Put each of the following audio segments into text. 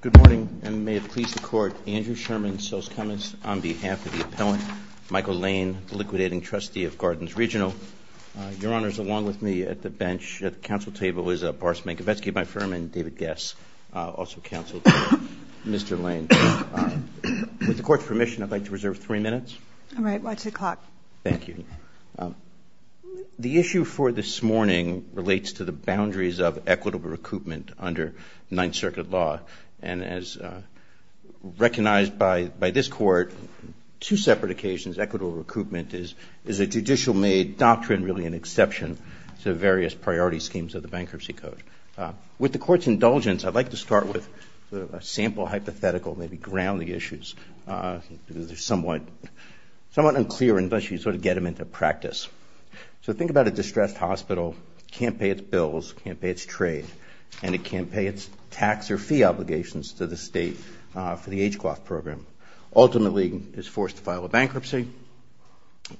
Good morning, and may it please the Court, Andrew Sherman, Sils Cummins, on behalf of the appellant, Michael Lane, the liquidating trustee of Gardens Regional. Your Honors, along with me at the bench at the Council table is Barst Mankiewicz, my firm, and David Guess, also counsel to Mr. Lane. With the Court's permission, I'd like to reserve three minutes. All right, watch the clock. Thank you. The issue for this morning relates to the boundaries of equitable recoupment under Ninth Circuit law. And as recognized by this Court, two separate occasions, equitable recoupment is a judicial-made doctrine, really an exception to various priority schemes of the Bankruptcy Code. With the Court's indulgence, I'd like to start with a sample hypothetical, maybe ground the issues, because they're somewhat unclear unless you sort of get them into practice. So think about a distressed hospital, can't pay its bills, can't pay its trade, and it can't pay its tax or fee obligations to the state for the age cloth program. Ultimately, it's forced to file a bankruptcy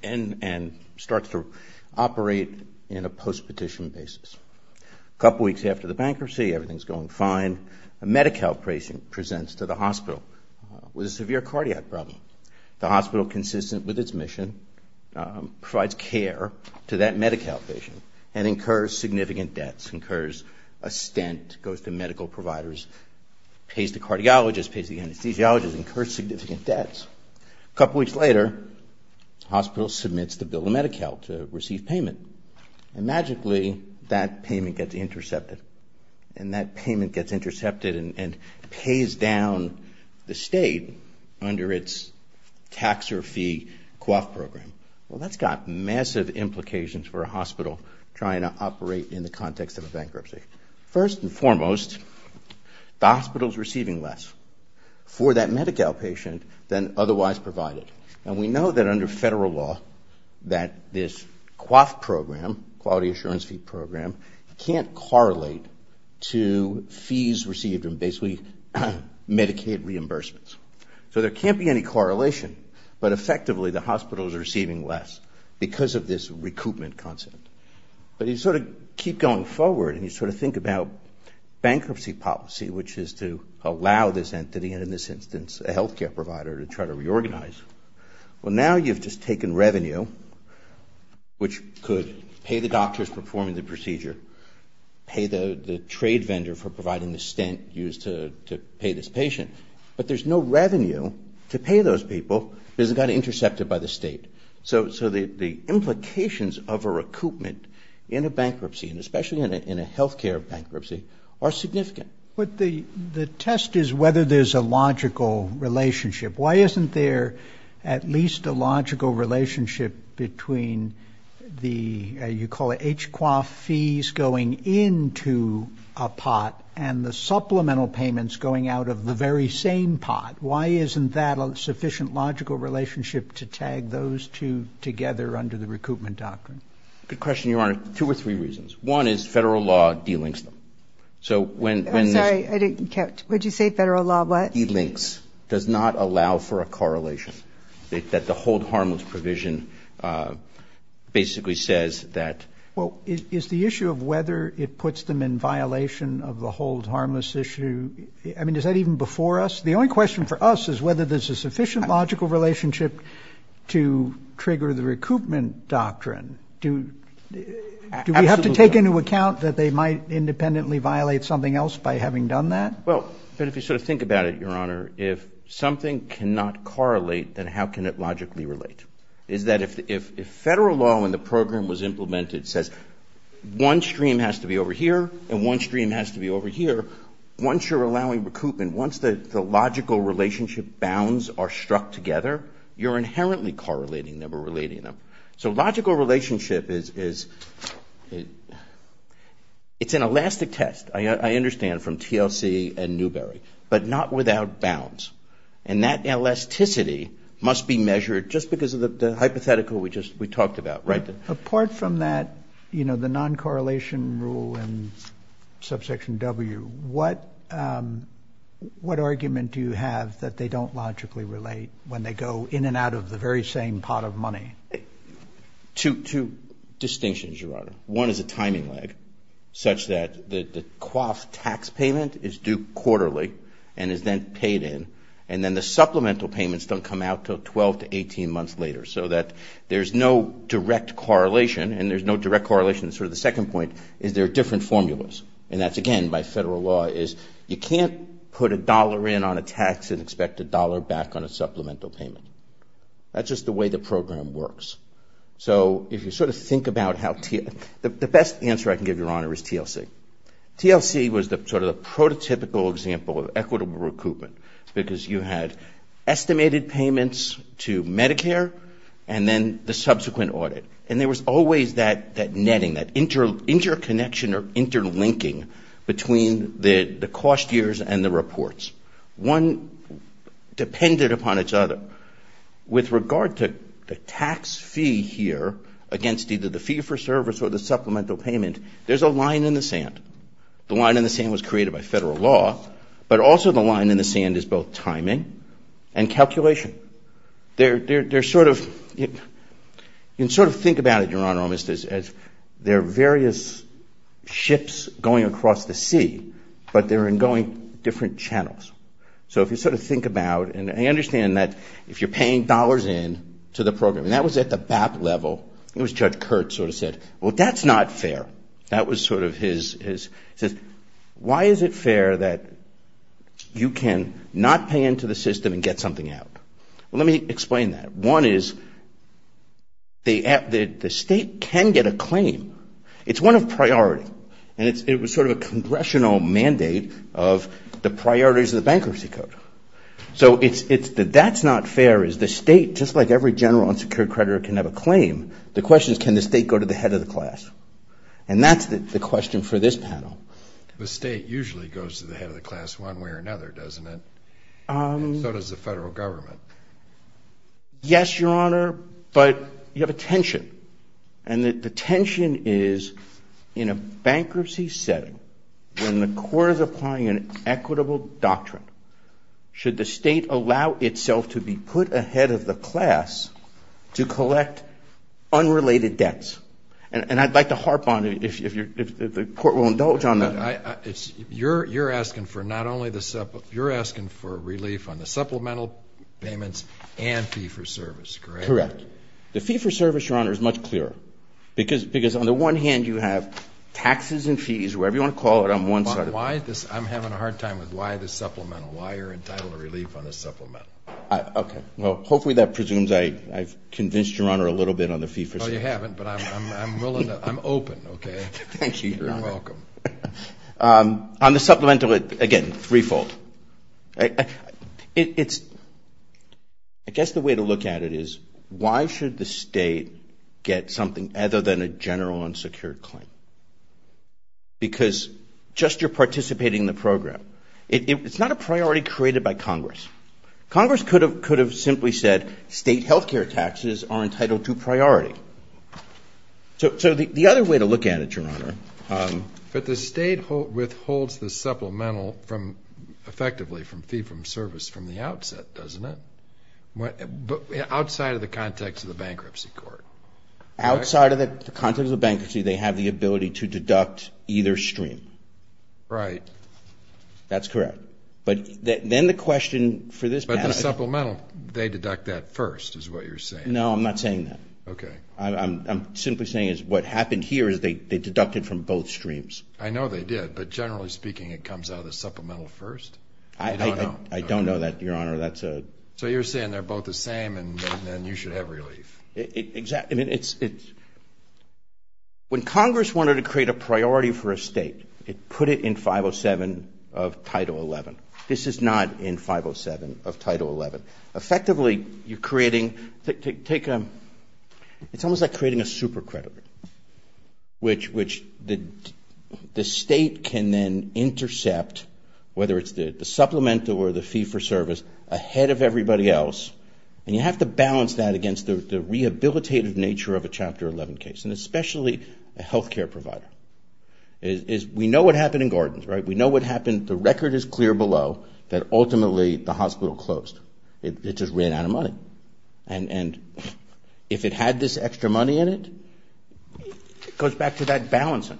and starts to operate in a post-petition basis. A couple weeks after the bankruptcy, everything's going fine. A Medi-Cal patient presents to the hospital with a severe cardiac problem. The hospital, inconsistent with its mission, provides care to that Medi-Cal patient and incurs significant debts, incurs a stent, goes to medical providers, pays the cardiologist, pays the anesthesiologist, incurs significant debts. A couple weeks later, the hospital submits the bill to Medi-Cal to receive payment. And magically, that payment gets intercepted. And that payment gets intercepted and pays down the state under its tax or fee cloth program. Well, that's got massive implications for a hospital trying to operate in the context of a bankruptcy. First and foremost, the hospital's receiving less for that Medi-Cal patient than otherwise provided. And we know that under federal law that this cloth program, quality assurance fee program, can't correlate to basically Medicaid reimbursements. So there can't be any correlation, but effectively the hospital's receiving less because of this recoupment concept. But you sort of keep going forward and you sort of think about bankruptcy policy, which is to allow this entity, and in this instance, a health care provider, to try to reorganize. Well, now you've just taken revenue, which could pay the doctors performing the procedure, pay the trade vendor for providing the stent used to pay this patient. But there's no revenue to pay those people because it got intercepted by the state. So the implications of a recoupment in a bankruptcy, and especially in a health care bankruptcy, are significant. But the test is whether there's a logical relationship. Why isn't there at least a logical relationship between the, you call it, H-QA fees going into a pot, and the Medi-Cal fees going out of a pot, and the supplemental payments going out of the very same pot? Why isn't that a sufficient logical relationship to tag those two together under the recoupment Good question, Your Honor. Two or three reasons. One is federal law de-links them. So when this- I'm sorry. I didn't catch. What did you say? Federal law what? De-links. Does not allow for a correlation. That the hold harmless provision basically says that- Well, is the issue of whether it puts them in violation of the hold harmless issue, I mean, is that even before us? The only question for us is whether there's a sufficient logical relationship to trigger the recoupment doctrine. Do we have to take into account that they might independently violate something else by having done that? Well, but if you sort of think about it, Your Honor, if something cannot correlate, then how can it logically relate? Is that if federal law in the program was implemented says one stream has to be over here, and one stream has to be over here, once you're allowing recoupment, once the logical relationship bounds are struck together, you're inherently correlating them or relating them. So logical relationship is- it's an elastic test. I understand from TLC and Newberry, but not without bounds. And that elasticity must be measured just because of the hypothetical we just- we talked about, right? Apart from that, you know, the non-correlation rule and subsection W, what argument do you have that they don't logically relate when they go in and out of the very same pot of money? Two distinctions, Your Honor. One is a timing lag, such that the coif tax payment is due quarterly and is then paid in, and then the supplemental payments don't come out until 12 to 18 months later. So that there's no direct correlation, and there's no direct correlation. So the second point is there are different formulas. And that's, again, by federal law is you can't put a dollar in on a tax and expect a dollar back on a supplemental payment. That's just the way the program works. So if you sort of think about how- the best answer I can give, Your Honor, is TLC. TLC was sort of the prototypical example of equitable recoupment, because you had estimated payments to Medicare and then the subsequent audit. And there was always that netting, that interconnection or interlinking between the cost years and the reports. One depended upon each other. With regard to the tax fee here against either the fee for service or the supplemental payment, there's a line in the sand. The line in the sand was created by federal law, but also the line in the sand is both timing and calculation. You can sort of think about it, Your Honor, almost as there are various ships going across the sea, but they're going different channels. So if you sort of think about- and I understand that if you're paying dollars in to the program, and that was at the BAP level, it was Judge Kurtz sort of said, well, that's not fair. That was sort of his- he says, why is it fair that you can not pay into the system and get something out? Well, let me explain that. One is the state can get a claim. It's one of priority. And it was sort of a congressional mandate of the priorities of the Bankruptcy Code. So it's- that's not fair is the state, just like every general unsecured creditor can have a claim. The question is, can the state go to the head of the class? And that's the question for this panel. The state usually goes to the head of the class one way or another, doesn't it? So does the federal government. Yes, Your Honor, but you have a tension. And the tension is, in a bankruptcy setting, when the court is applying an equitable doctrine, should the state allow itself to be put ahead of the class to collect unrelated debts? And I'd like to harp on it, if the Court will You're asking for not only the- you're asking for relief on the supplemental payments and fee for service, correct? Correct. The fee for service, Your Honor, is much clearer. Because on the one hand, you have taxes and fees, whatever you want to call it, on one side of- Why is this- I'm having a hard time with why the supplemental. Why you're entitled to relief on the supplemental? Okay. Well, hopefully that presumes I've convinced Your Honor a little bit on the fee for service. Well, you haven't, but I'm willing to- I'm open, okay? Thank you, Your Honor. You're welcome. On the supplemental, again, threefold. It's- I guess the way to look at it is, why should the state get something other than a general unsecured claim? Because just you're participating in the program. It's not a priority created by Congress. Congress could have simply said state health care taxes are entitled to priority. So the other way to look at it, Your Honor- But the state withholds the supplemental from, effectively, from fee for service from the outset, doesn't it? Outside of the context of the bankruptcy court. Outside of the context of the bankruptcy, they have the ability to deduct either stream. Right. That's correct. But then the question for this- Supplemental, they deduct that first, is what you're saying. No, I'm not saying that. Okay. I'm simply saying is what happened here is they deducted from both streams. I know they did, but generally speaking, it comes out of the supplemental first. I don't know that, Your Honor. That's a- So you're saying they're both the same, and then you should have relief. Exactly. I mean, it's- When Congress wanted to create a priority for a state, it put it in 507 of Title XI. This is not in 507 of Title XI. Effectively, you're creating- Take- It's almost like creating a super credit, which the state can then intercept, whether it's the supplemental or the fee for service, ahead of everybody else. And you have to balance that against the rehabilitative nature of a Chapter XI case, and especially a health We know what happened in Gordon's, right? We know what happened. The record is clear below that ultimately the hospital closed. It just ran out of money. And if it had this extra money in it, it goes back to that balancing.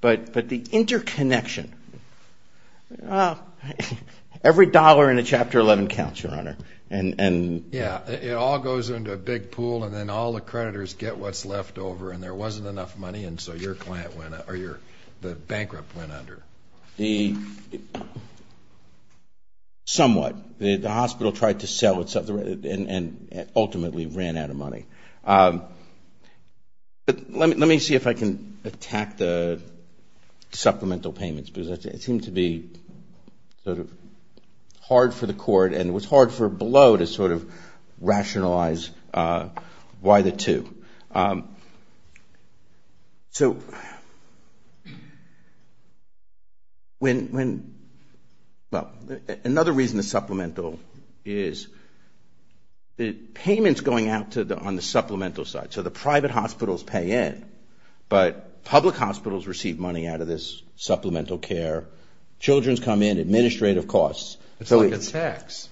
But the interconnection, every dollar in a Chapter XI counts, Your Honor. Yeah. It all goes into a big pool, and then all the creditors get what's left over, and there wasn't enough money, and so your client went- Or your- The bankrupt went under. Somewhat. The hospital tried to sell itself, and ultimately ran out of money. But let me see if I can attack the supplemental payments, because it seemed to be sort of hard for the So, when- Well, another reason the supplemental is- Payments going out to the- On the supplemental side. So the private hospitals pay in, but public hospitals receive money out of this supplemental care. Children come in, administrative costs. It's like a tax.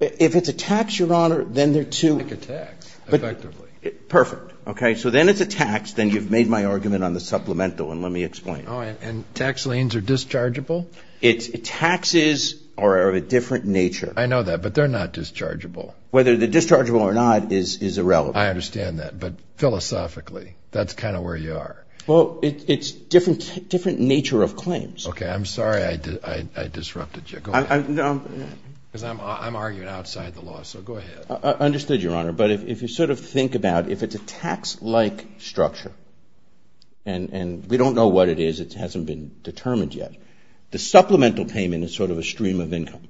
If it's a tax, Your Honor, then there are two- Like a tax, effectively. Perfect. Okay? So then it's a tax. Then you've made my argument on the supplemental, and let me explain. Oh, and tax liens are dischargeable? It's- Taxes are of a different nature. I know that, but they're not dischargeable. Whether they're dischargeable or not is irrelevant. I understand that. But philosophically, that's kind of where you are. Well, it's a different nature of claims. Okay. I'm sorry I disrupted you. Go ahead. Because I'm arguing outside the law, so go ahead. I understood, Your Honor. But if you sort of think about, if it's a tax-like structure, and we don't know what it is. It hasn't been determined yet. The supplemental payment is sort of a stream of income.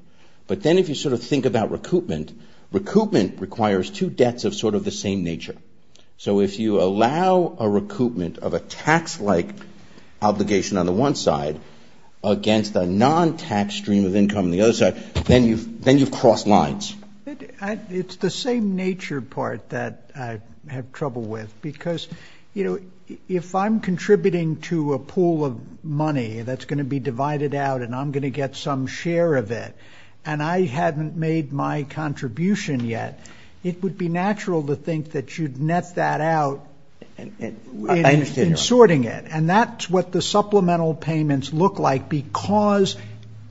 But then if you sort of think about recoupment, recoupment requires two debts of sort of the same nature. So if you allow a recoupment of a tax-like obligation on the one side against a non-tax stream of income on the other side, then you've crossed lines. It's the same nature part that I have trouble with. Because if I'm contributing to a pool of money that's going to be divided out, and I'm going to get some share of it, and I haven't made my contribution yet, it would be natural to think that you'd net that out in sorting it. And that's what the supplemental payments look like, because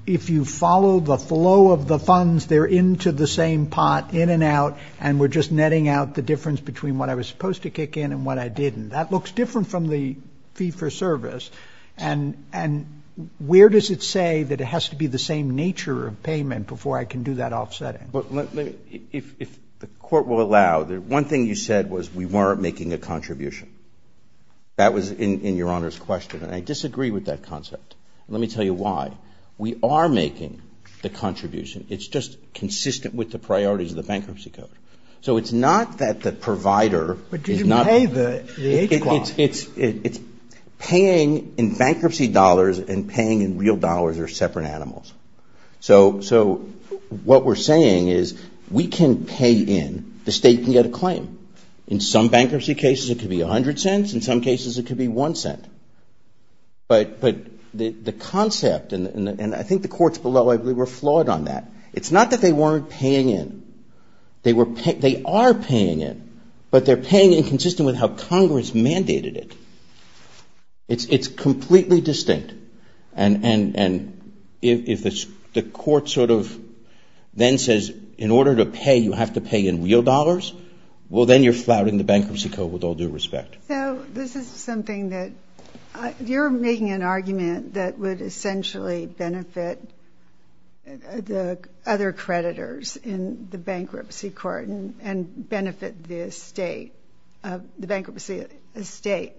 if you follow the flow of the funds, they're into the same pot, in and out, and we're just netting out the difference between what I was supposed to kick in and what I didn't. That looks different from the fee-for-service. And where does it say that it has to be the same nature of payment before I can do that offsetting? Well, if the Court will allow, the one thing you said was we weren't making a contribution. That was in Your Honor's question, and I disagree with that concept. Let me tell you why. We are making the contribution. It's just consistent with the priorities of the Bankruptcy Code. So it's not that the provider is not paying in bankruptcy dollars and paying in real dollars or separate animals. So what we're saying is we can pay in, the State can get a claim. In some bankruptcy cases it could be 100 cents, in some cases it could be 1 cent. But the concept, and I think the courts below, I believe, were flawed on that. It's not that they weren't paying in, they are paying in, but they're paying in consistent with how Congress mandated it. It's completely distinct, and if the Court sort of then says in order to pay, you have to pay in real dollars, well, then you're flouting the Bankruptcy Code with all due respect. So this is something that, you're making an argument that would essentially benefit the other creditors in the bankruptcy court and benefit the Bankruptcy Estate.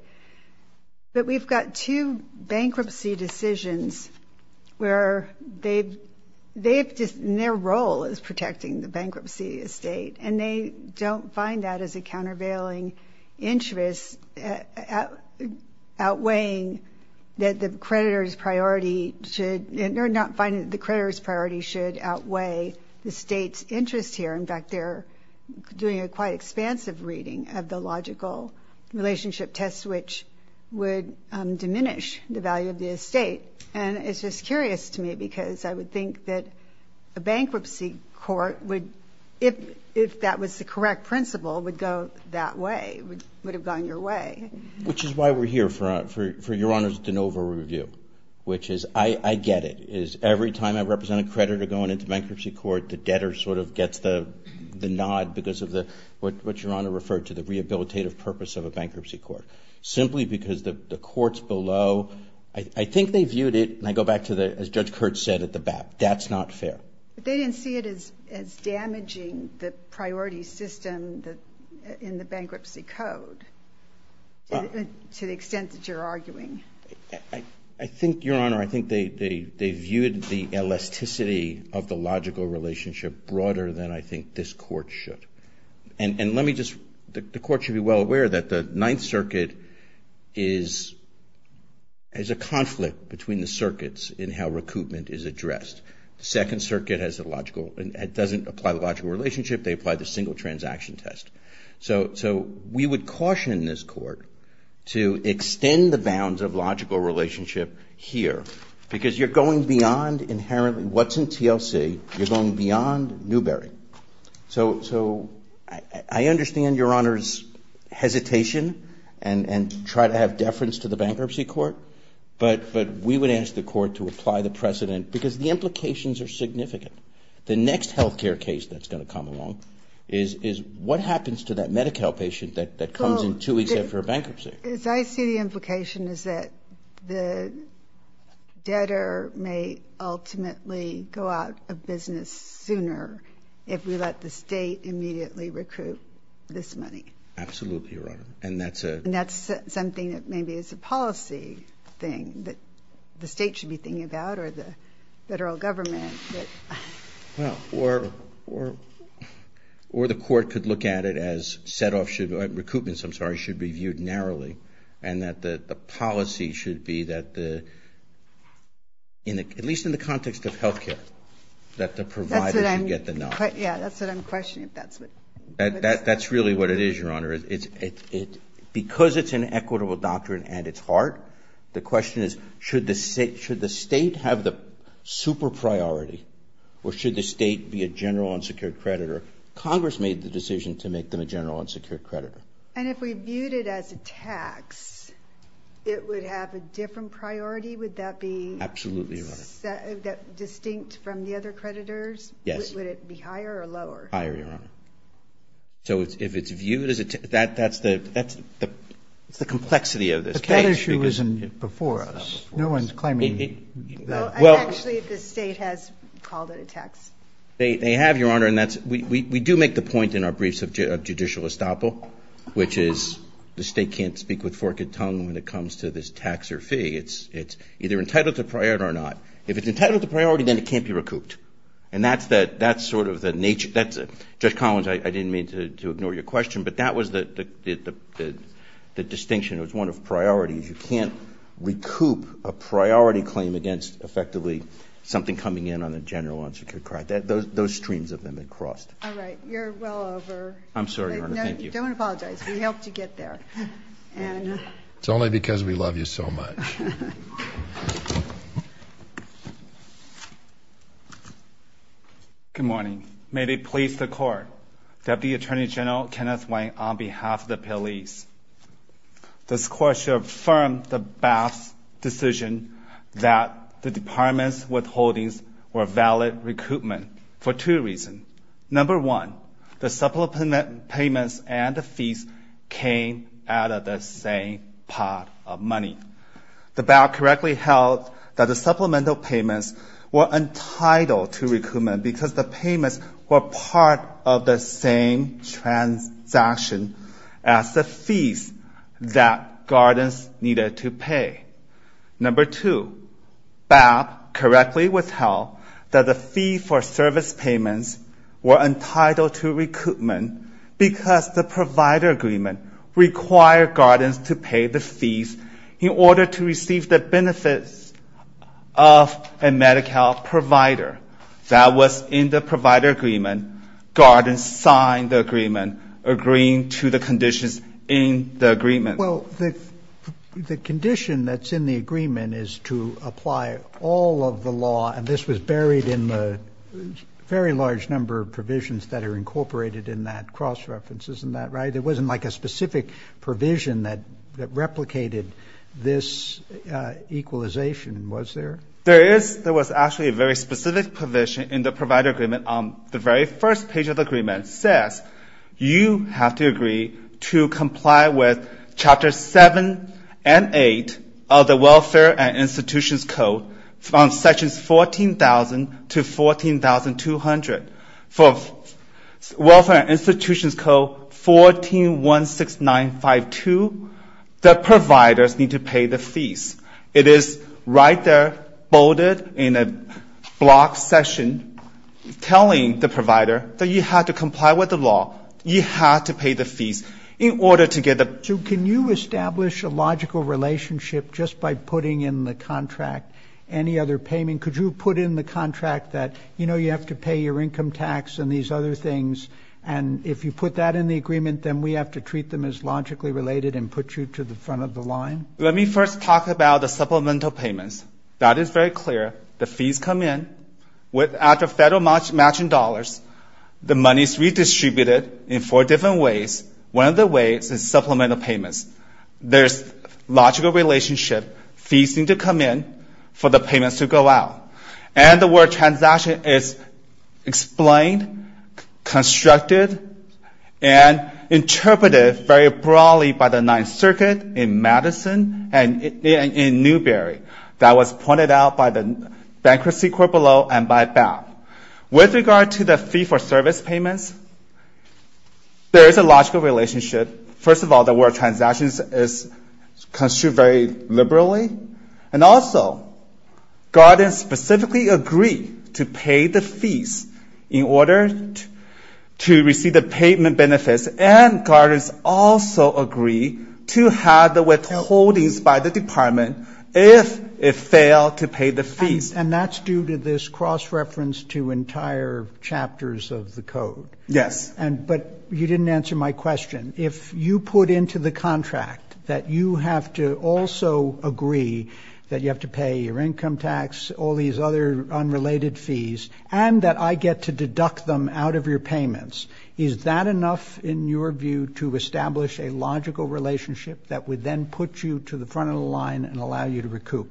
But we've got two bankruptcy decisions where their role is protecting the Bankruptcy Estate, and they don't find that as a countervailing interest, outweighing that the creditor's priority should, they're not finding that the creditor's priority should outweigh the State's interest here. In fact, they're doing a quite expansive reading of the logical relationship test, which would diminish the value of the Estate. And it's just curious to me because I would think that a bankruptcy court would, if that was the correct principle, would go that way, would have gone your way. Which is why we're here for Your Honor's de novo review, which is, I get it, is every time I represent a creditor going into bankruptcy court, the debtor sort of gets the nod because of what Your Honor referred to, the rehabilitative purpose of a bankruptcy court. Simply because the courts below, I think they viewed it, and I go back to the, as Judge Kurtz said at the BAP, that's not fair. But they didn't see it as damaging the priority system in the bankruptcy code, to the extent that you're arguing. I think, Your Honor, I think they viewed the elasticity of the logical relationship broader than I think this court should. And let me just, the court should be well aware that the Ninth Circuit is a conflict between the circuits in how recoupment is addressed. The Second Circuit has a logical, it doesn't apply the logical relationship, they apply the single transaction test. So we would caution this court to extend the bounds of logical relationship here. Because you're going beyond inherently what's in TLC, you're going beyond Newbery. So I understand Your Honor's hesitation and try to have deference to the bankruptcy court. But we would ask the court to apply the precedent, because the implications are significant. The next healthcare case that's going to come along is what happens to that Medi-Cal patient that comes in two weeks after a bankruptcy? As I see the implication is that the debtor may ultimately go out of business sooner if we let the state immediately recoup this money. Absolutely, Your Honor. And that's a... And that's something that maybe is a policy thing that the state should be thinking about or the federal government. Well, or the court could look at it as set off, recoupments, I'm sorry, should be viewed narrowly. And that the policy should be that the, at least in the context of healthcare, that the provider should get the knowledge. Yeah, that's what I'm questioning. That's really what it is, Your Honor. Because it's an equitable doctrine at its heart, the question is, should the state have the super priority? Or should the state be a general unsecured creditor? Congress made the decision to make them a general unsecured creditor. And if we viewed it as a tax, it would have a different priority? Would that be... Absolutely, Your Honor. ...that distinct from the other creditors? Yes. Would it be higher or lower? Higher, Your Honor. So if it's viewed as a tax, that's the complexity of this case. But that issue isn't before us. No one's claiming... Well... And actually, the state has called it a tax. They have, Your Honor. And that's... We do make the point in our briefs of judicial estoppel, which is, the state can't speak with forked tongue when it comes to this tax or fee. It's either entitled to priority or not. If it's entitled to priority, then it can't be recouped. And that's sort of the nature... Judge Collins, I didn't mean to ignore your question, but that was the distinction. It was one of priorities. You can't recoup a priority claim against, effectively, something coming in on a general unsecured credit. Those streams have been crossed. All right. You're well over. I'm sorry, Your Honor. Thank you. Don't apologize. We helped you get there. It's only because we love you so much. Good morning. May it please the Court, Deputy Attorney General Kenneth Wayne, on behalf of the police. This Court should affirm the BAP's decision that the department's withholdings were valid recoupment for two reasons. Number one, the supplemental payments and the fees came out of the same pot of money. The BAP correctly held that the supplemental payments were entitled to recoupment because the payments were part of the same transaction as the fees that guardians needed to pay. Number two, BAP correctly withheld that the fee for service payments were entitled to recoupment because the provider agreement required guardians to pay the fees in order to receive the benefits of a Medi-Cal provider. That was in the provider agreement. Guardians signed the agreement agreeing to the conditions in the agreement. Well, the condition that's in the agreement is to apply all of the law, and this was buried in the very large number of provisions that are incorporated in that cross-reference. Isn't that right? There wasn't like a specific provision that replicated this equalization, was there? There is. There was actually a very specific provision in the provider agreement on the very first page of the agreement. It says you have to agree to comply with Chapter 7 and 8 of the Welfare and Institutions Code from Sections 14,000 to 14,200. For Welfare and Institutions Code 1416952, the providers need to pay the fees. It is right there, bolded in a block section, telling the provider that you have to comply with the law. You have to pay the fees in order to get the... any other payment. Could you put in the contract that, you know, you have to pay your income tax and these other things, and if you put that in the agreement, then we have to treat them as logically related and put you to the front of the line? Let me first talk about the supplemental payments. That is very clear. The fees come in. After federal matching dollars, the money is redistributed in four different ways. One of the ways is supplemental payments. There's logical relationship. Fees need to come in for the payments to go out. And the word transaction is explained, constructed, and interpreted very broadly by the Ninth Circuit in Madison and in Newbury. That was pointed out by the Bankruptcy Court below and by BAP. With regard to the fee for service payments, there is a logical relationship. First of all, the word transactions is construed very liberally. And also, guardians specifically agree to pay the fees in order to receive the payment benefits, and guardians also agree to have the withholdings by the department if it failed to pay the fees. And that's due to this cross-reference to entire chapters of the code. Yes. But you didn't answer my question. If you put into the contract that you have to also agree that you have to pay your income tax, all these other unrelated fees, and that I get to deduct them out of your payments, is that enough, in your view, to establish a logical relationship that would then put you to the front of the line and allow you to recoup?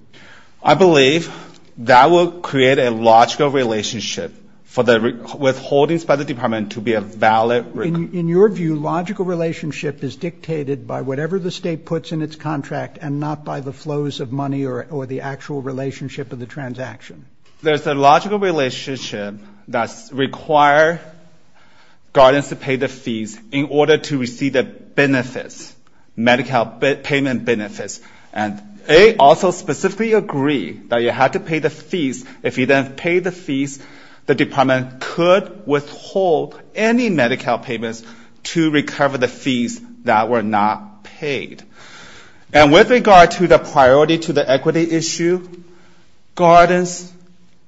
I believe that will create a logical relationship for the withholdings by the department to be a valid— In your view, logical relationship is dictated by whatever the state puts in its contract and not by the flows of money or the actual relationship of the transaction? There's a logical relationship that requires guardians to pay the fees in order to receive the benefits, Medi-Cal payment benefits. And they also specifically agree that you have to pay the fees. If you don't pay the fees, the department could withhold any Medi-Cal payments to recover the fees that were not paid. And with regard to the priority to the equity issue, guardians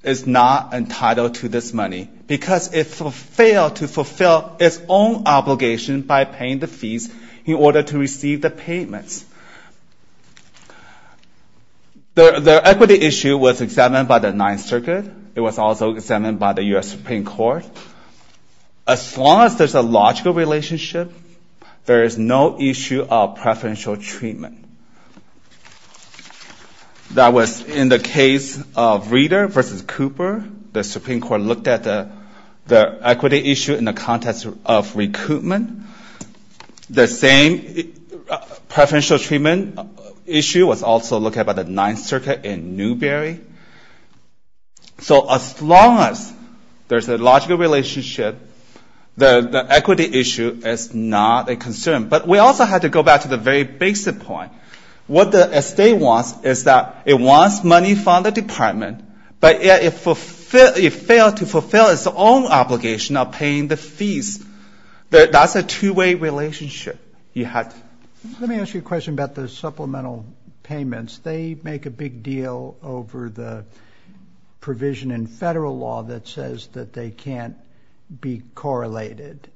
is not entitled to this money because it failed to fulfill its own obligation by paying the fees in order to receive the payments. The equity issue was examined by the Ninth Circuit. It was also examined by the U.S. Supreme Court. As long as there's a logical relationship, there is no issue of preferential treatment. That was in the case of Reeder v. Cooper. The Supreme Court looked at the equity issue in the context of recoupment. The same preferential treatment issue was also looked at by the Ninth Circuit in Newberry. So as long as there's a logical relationship, the equity issue is not a concern. But we also have to go back to the very basic point. What the state wants is that it wants money from the department, but it failed to fulfill its own obligation of paying the fees. That's a two-way relationship. Let me ask you a question about the supplemental payments. They make a big deal over the provision in federal law that says that they can't be correlated.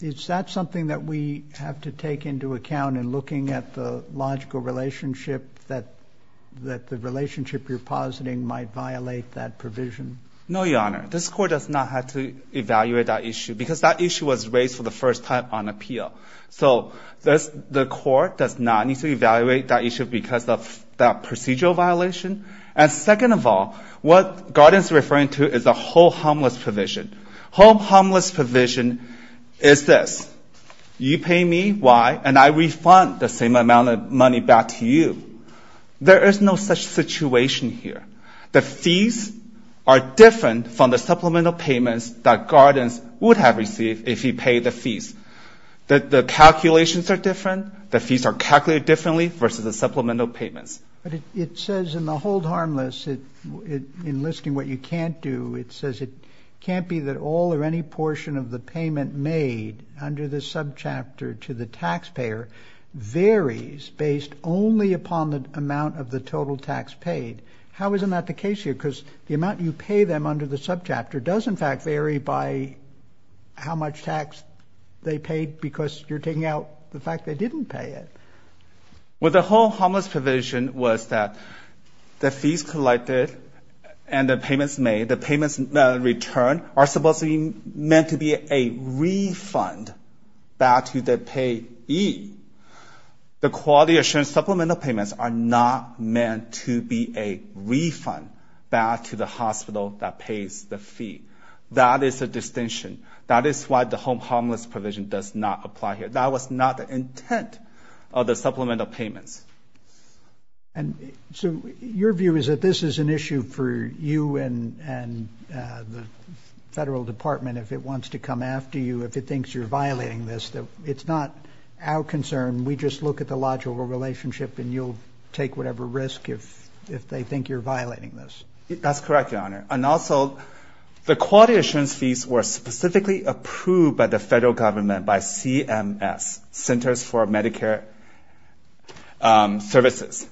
Is that something that we have to take into account in looking at the logical relationship that the relationship you're positing might violate that provision? No, Your Honor. This Court does not have to evaluate that issue because that issue was raised for the first time on appeal. So the Court does not need to evaluate that issue because of that procedural violation. And second of all, what Gordon is referring to is the home homeless provision. Home homeless provision is this. You pay me, why? And I refund the same amount of money back to you. There is no such situation here. The fees are different from the supplemental payments that Gordon would have received if he paid the fees. The calculations are different. The fees are calculated differently versus the supplemental payments. It says in the hold harmless, in listing what you can't do, it says it can't be that all or any portion of the payment made under the subchapter to the taxpayer varies based only upon the amount of the total tax paid. How isn't that the case here? Because the amount you pay them under the subchapter does in fact vary by how much tax they paid because you're taking out the fact they didn't pay it. With the home homeless provision was that the fees collected and the payments made, the payments returned are supposed to be meant to be a refund back to the payee. The quality assurance supplemental payments are not meant to be a refund back to the hospital that pays the fee. That is a distinction. That is why the home homeless provision does not apply here. That was not the intent of the supplemental payments. And so your view is that this is an issue for you and the federal department if it wants to come after you, if it thinks you're violating this. It's not our concern. We just look at the logical relationship and you'll take whatever risk if they think you're violating this. That's correct, your honor. And also, the quality assurance fees were specifically approved by the federal government by CMS, Centers for Medicare Services.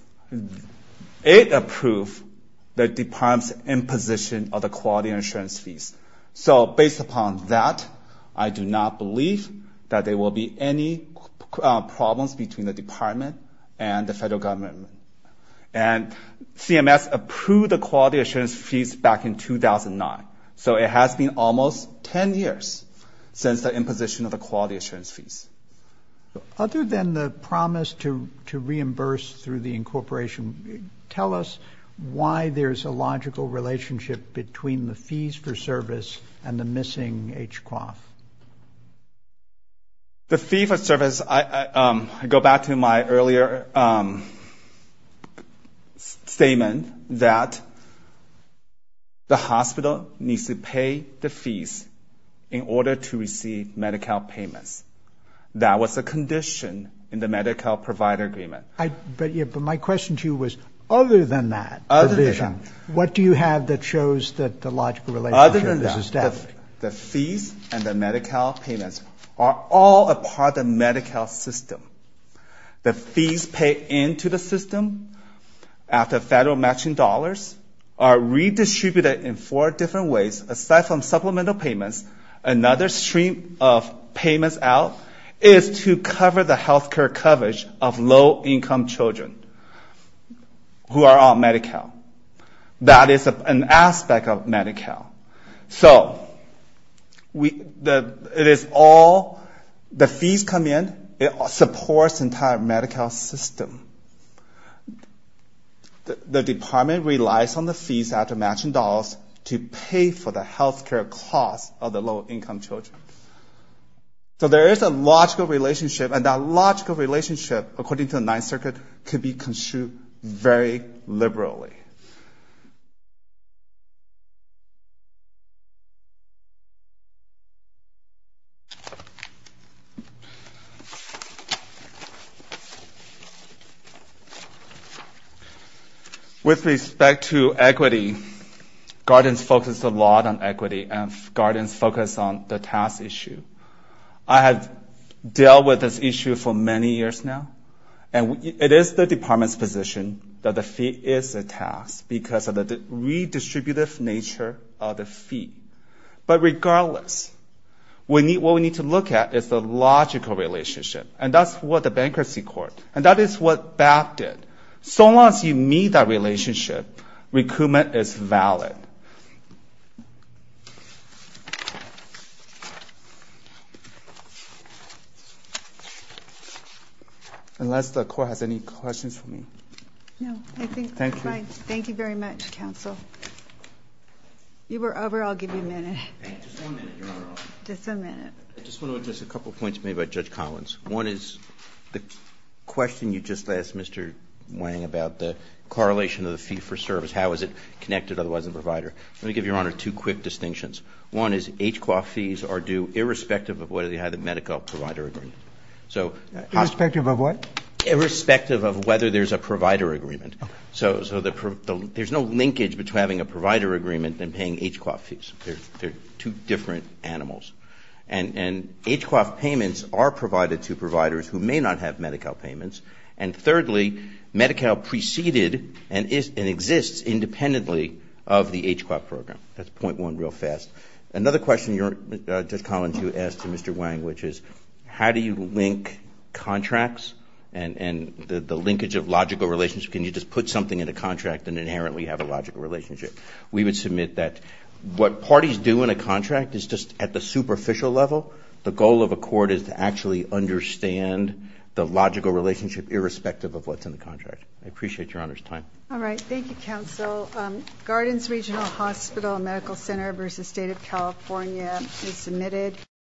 It approved the department's imposition of the quality assurance fees. So based upon that, I do not believe that there will be any problems between the department and the federal government. And CMS approved the quality assurance fees back in 2009. So it has been almost 10 years since the imposition of the quality assurance fees. Other than the promise to reimburse through the incorporation, tell us why there's a logical relationship between the fees for service and the missing H-Quaf. The fee for service, I go back to my earlier statement that the hospital needs to pay the fees in order to receive Medi-Cal payments. That was a condition in the Medi-Cal provider agreement. My question to you was, other than that provision, what do you have that shows that the logical relationship is established? Other than that, the fees and the Medi-Cal payments are all a part of the Medi-Cal system. The fees paid into the system after federal matching dollars are redistributed in four different ways. Aside from supplemental payments, another stream of payments out is to cover the healthcare coverage of low-income children who are on Medi-Cal. That is an aspect of Medi-Cal. So it is all, the fees come in, it supports the entire Medi-Cal system. The department relies on the fees after matching dollars to pay for the healthcare costs of the low-income children. So there is a logical relationship, and that logical relationship, according to the Ninth Circuit, can be construed very liberally. With respect to equity, guardians focus a lot on equity, and guardians focus on the tax issue. I have dealt with this issue for many years now, and it is the department's position that the fee is a tax because of the redistributive nature of the fee. But regardless, what we need to look at is the logical relationship, and that is what the Bankruptcy Court, and that is what BAP did. So long as you meet that relationship, recoupment is valid. Unless the Court has any questions for me. No, I think we're fine. Thank you. Thank you very much, counsel. You were over. I'll give you a minute. Just one minute. You're not allowed. Just a minute. I just want to address a couple of points made by Judge Collins. One is the question you just asked, Mr. Wang, about the correlation of the fee for service. How is it connected, otherwise, to the provider? Let me give Your Honor two quick distinctions. One is HCQA fees are due irrespective of whether they have the Medi-Cal provider agreement. Irrespective of what? Irrespective of whether there's a provider agreement. So there's no linkage between having a provider agreement and paying HCQA fees. They're two different animals. And HCQA payments are provided to providers who may not have Medi-Cal payments. And thirdly, Medi-Cal preceded and exists independently of the HCQA program. That's point one real fast. Another question Judge Collins, you asked to Mr. Wang, which is how do you link contracts and the linkage of logical relationships? Can you just put something in a contract and inherently have a logical relationship? We would submit that what parties do in a contract is just at the superficial level, the goal of a court is to actually understand the logical relationship irrespective of what's in the contract. I appreciate Your Honor's time. All right. Thank you, counsel. Gardens Regional Hospital and Medical Center versus State of California is submitted.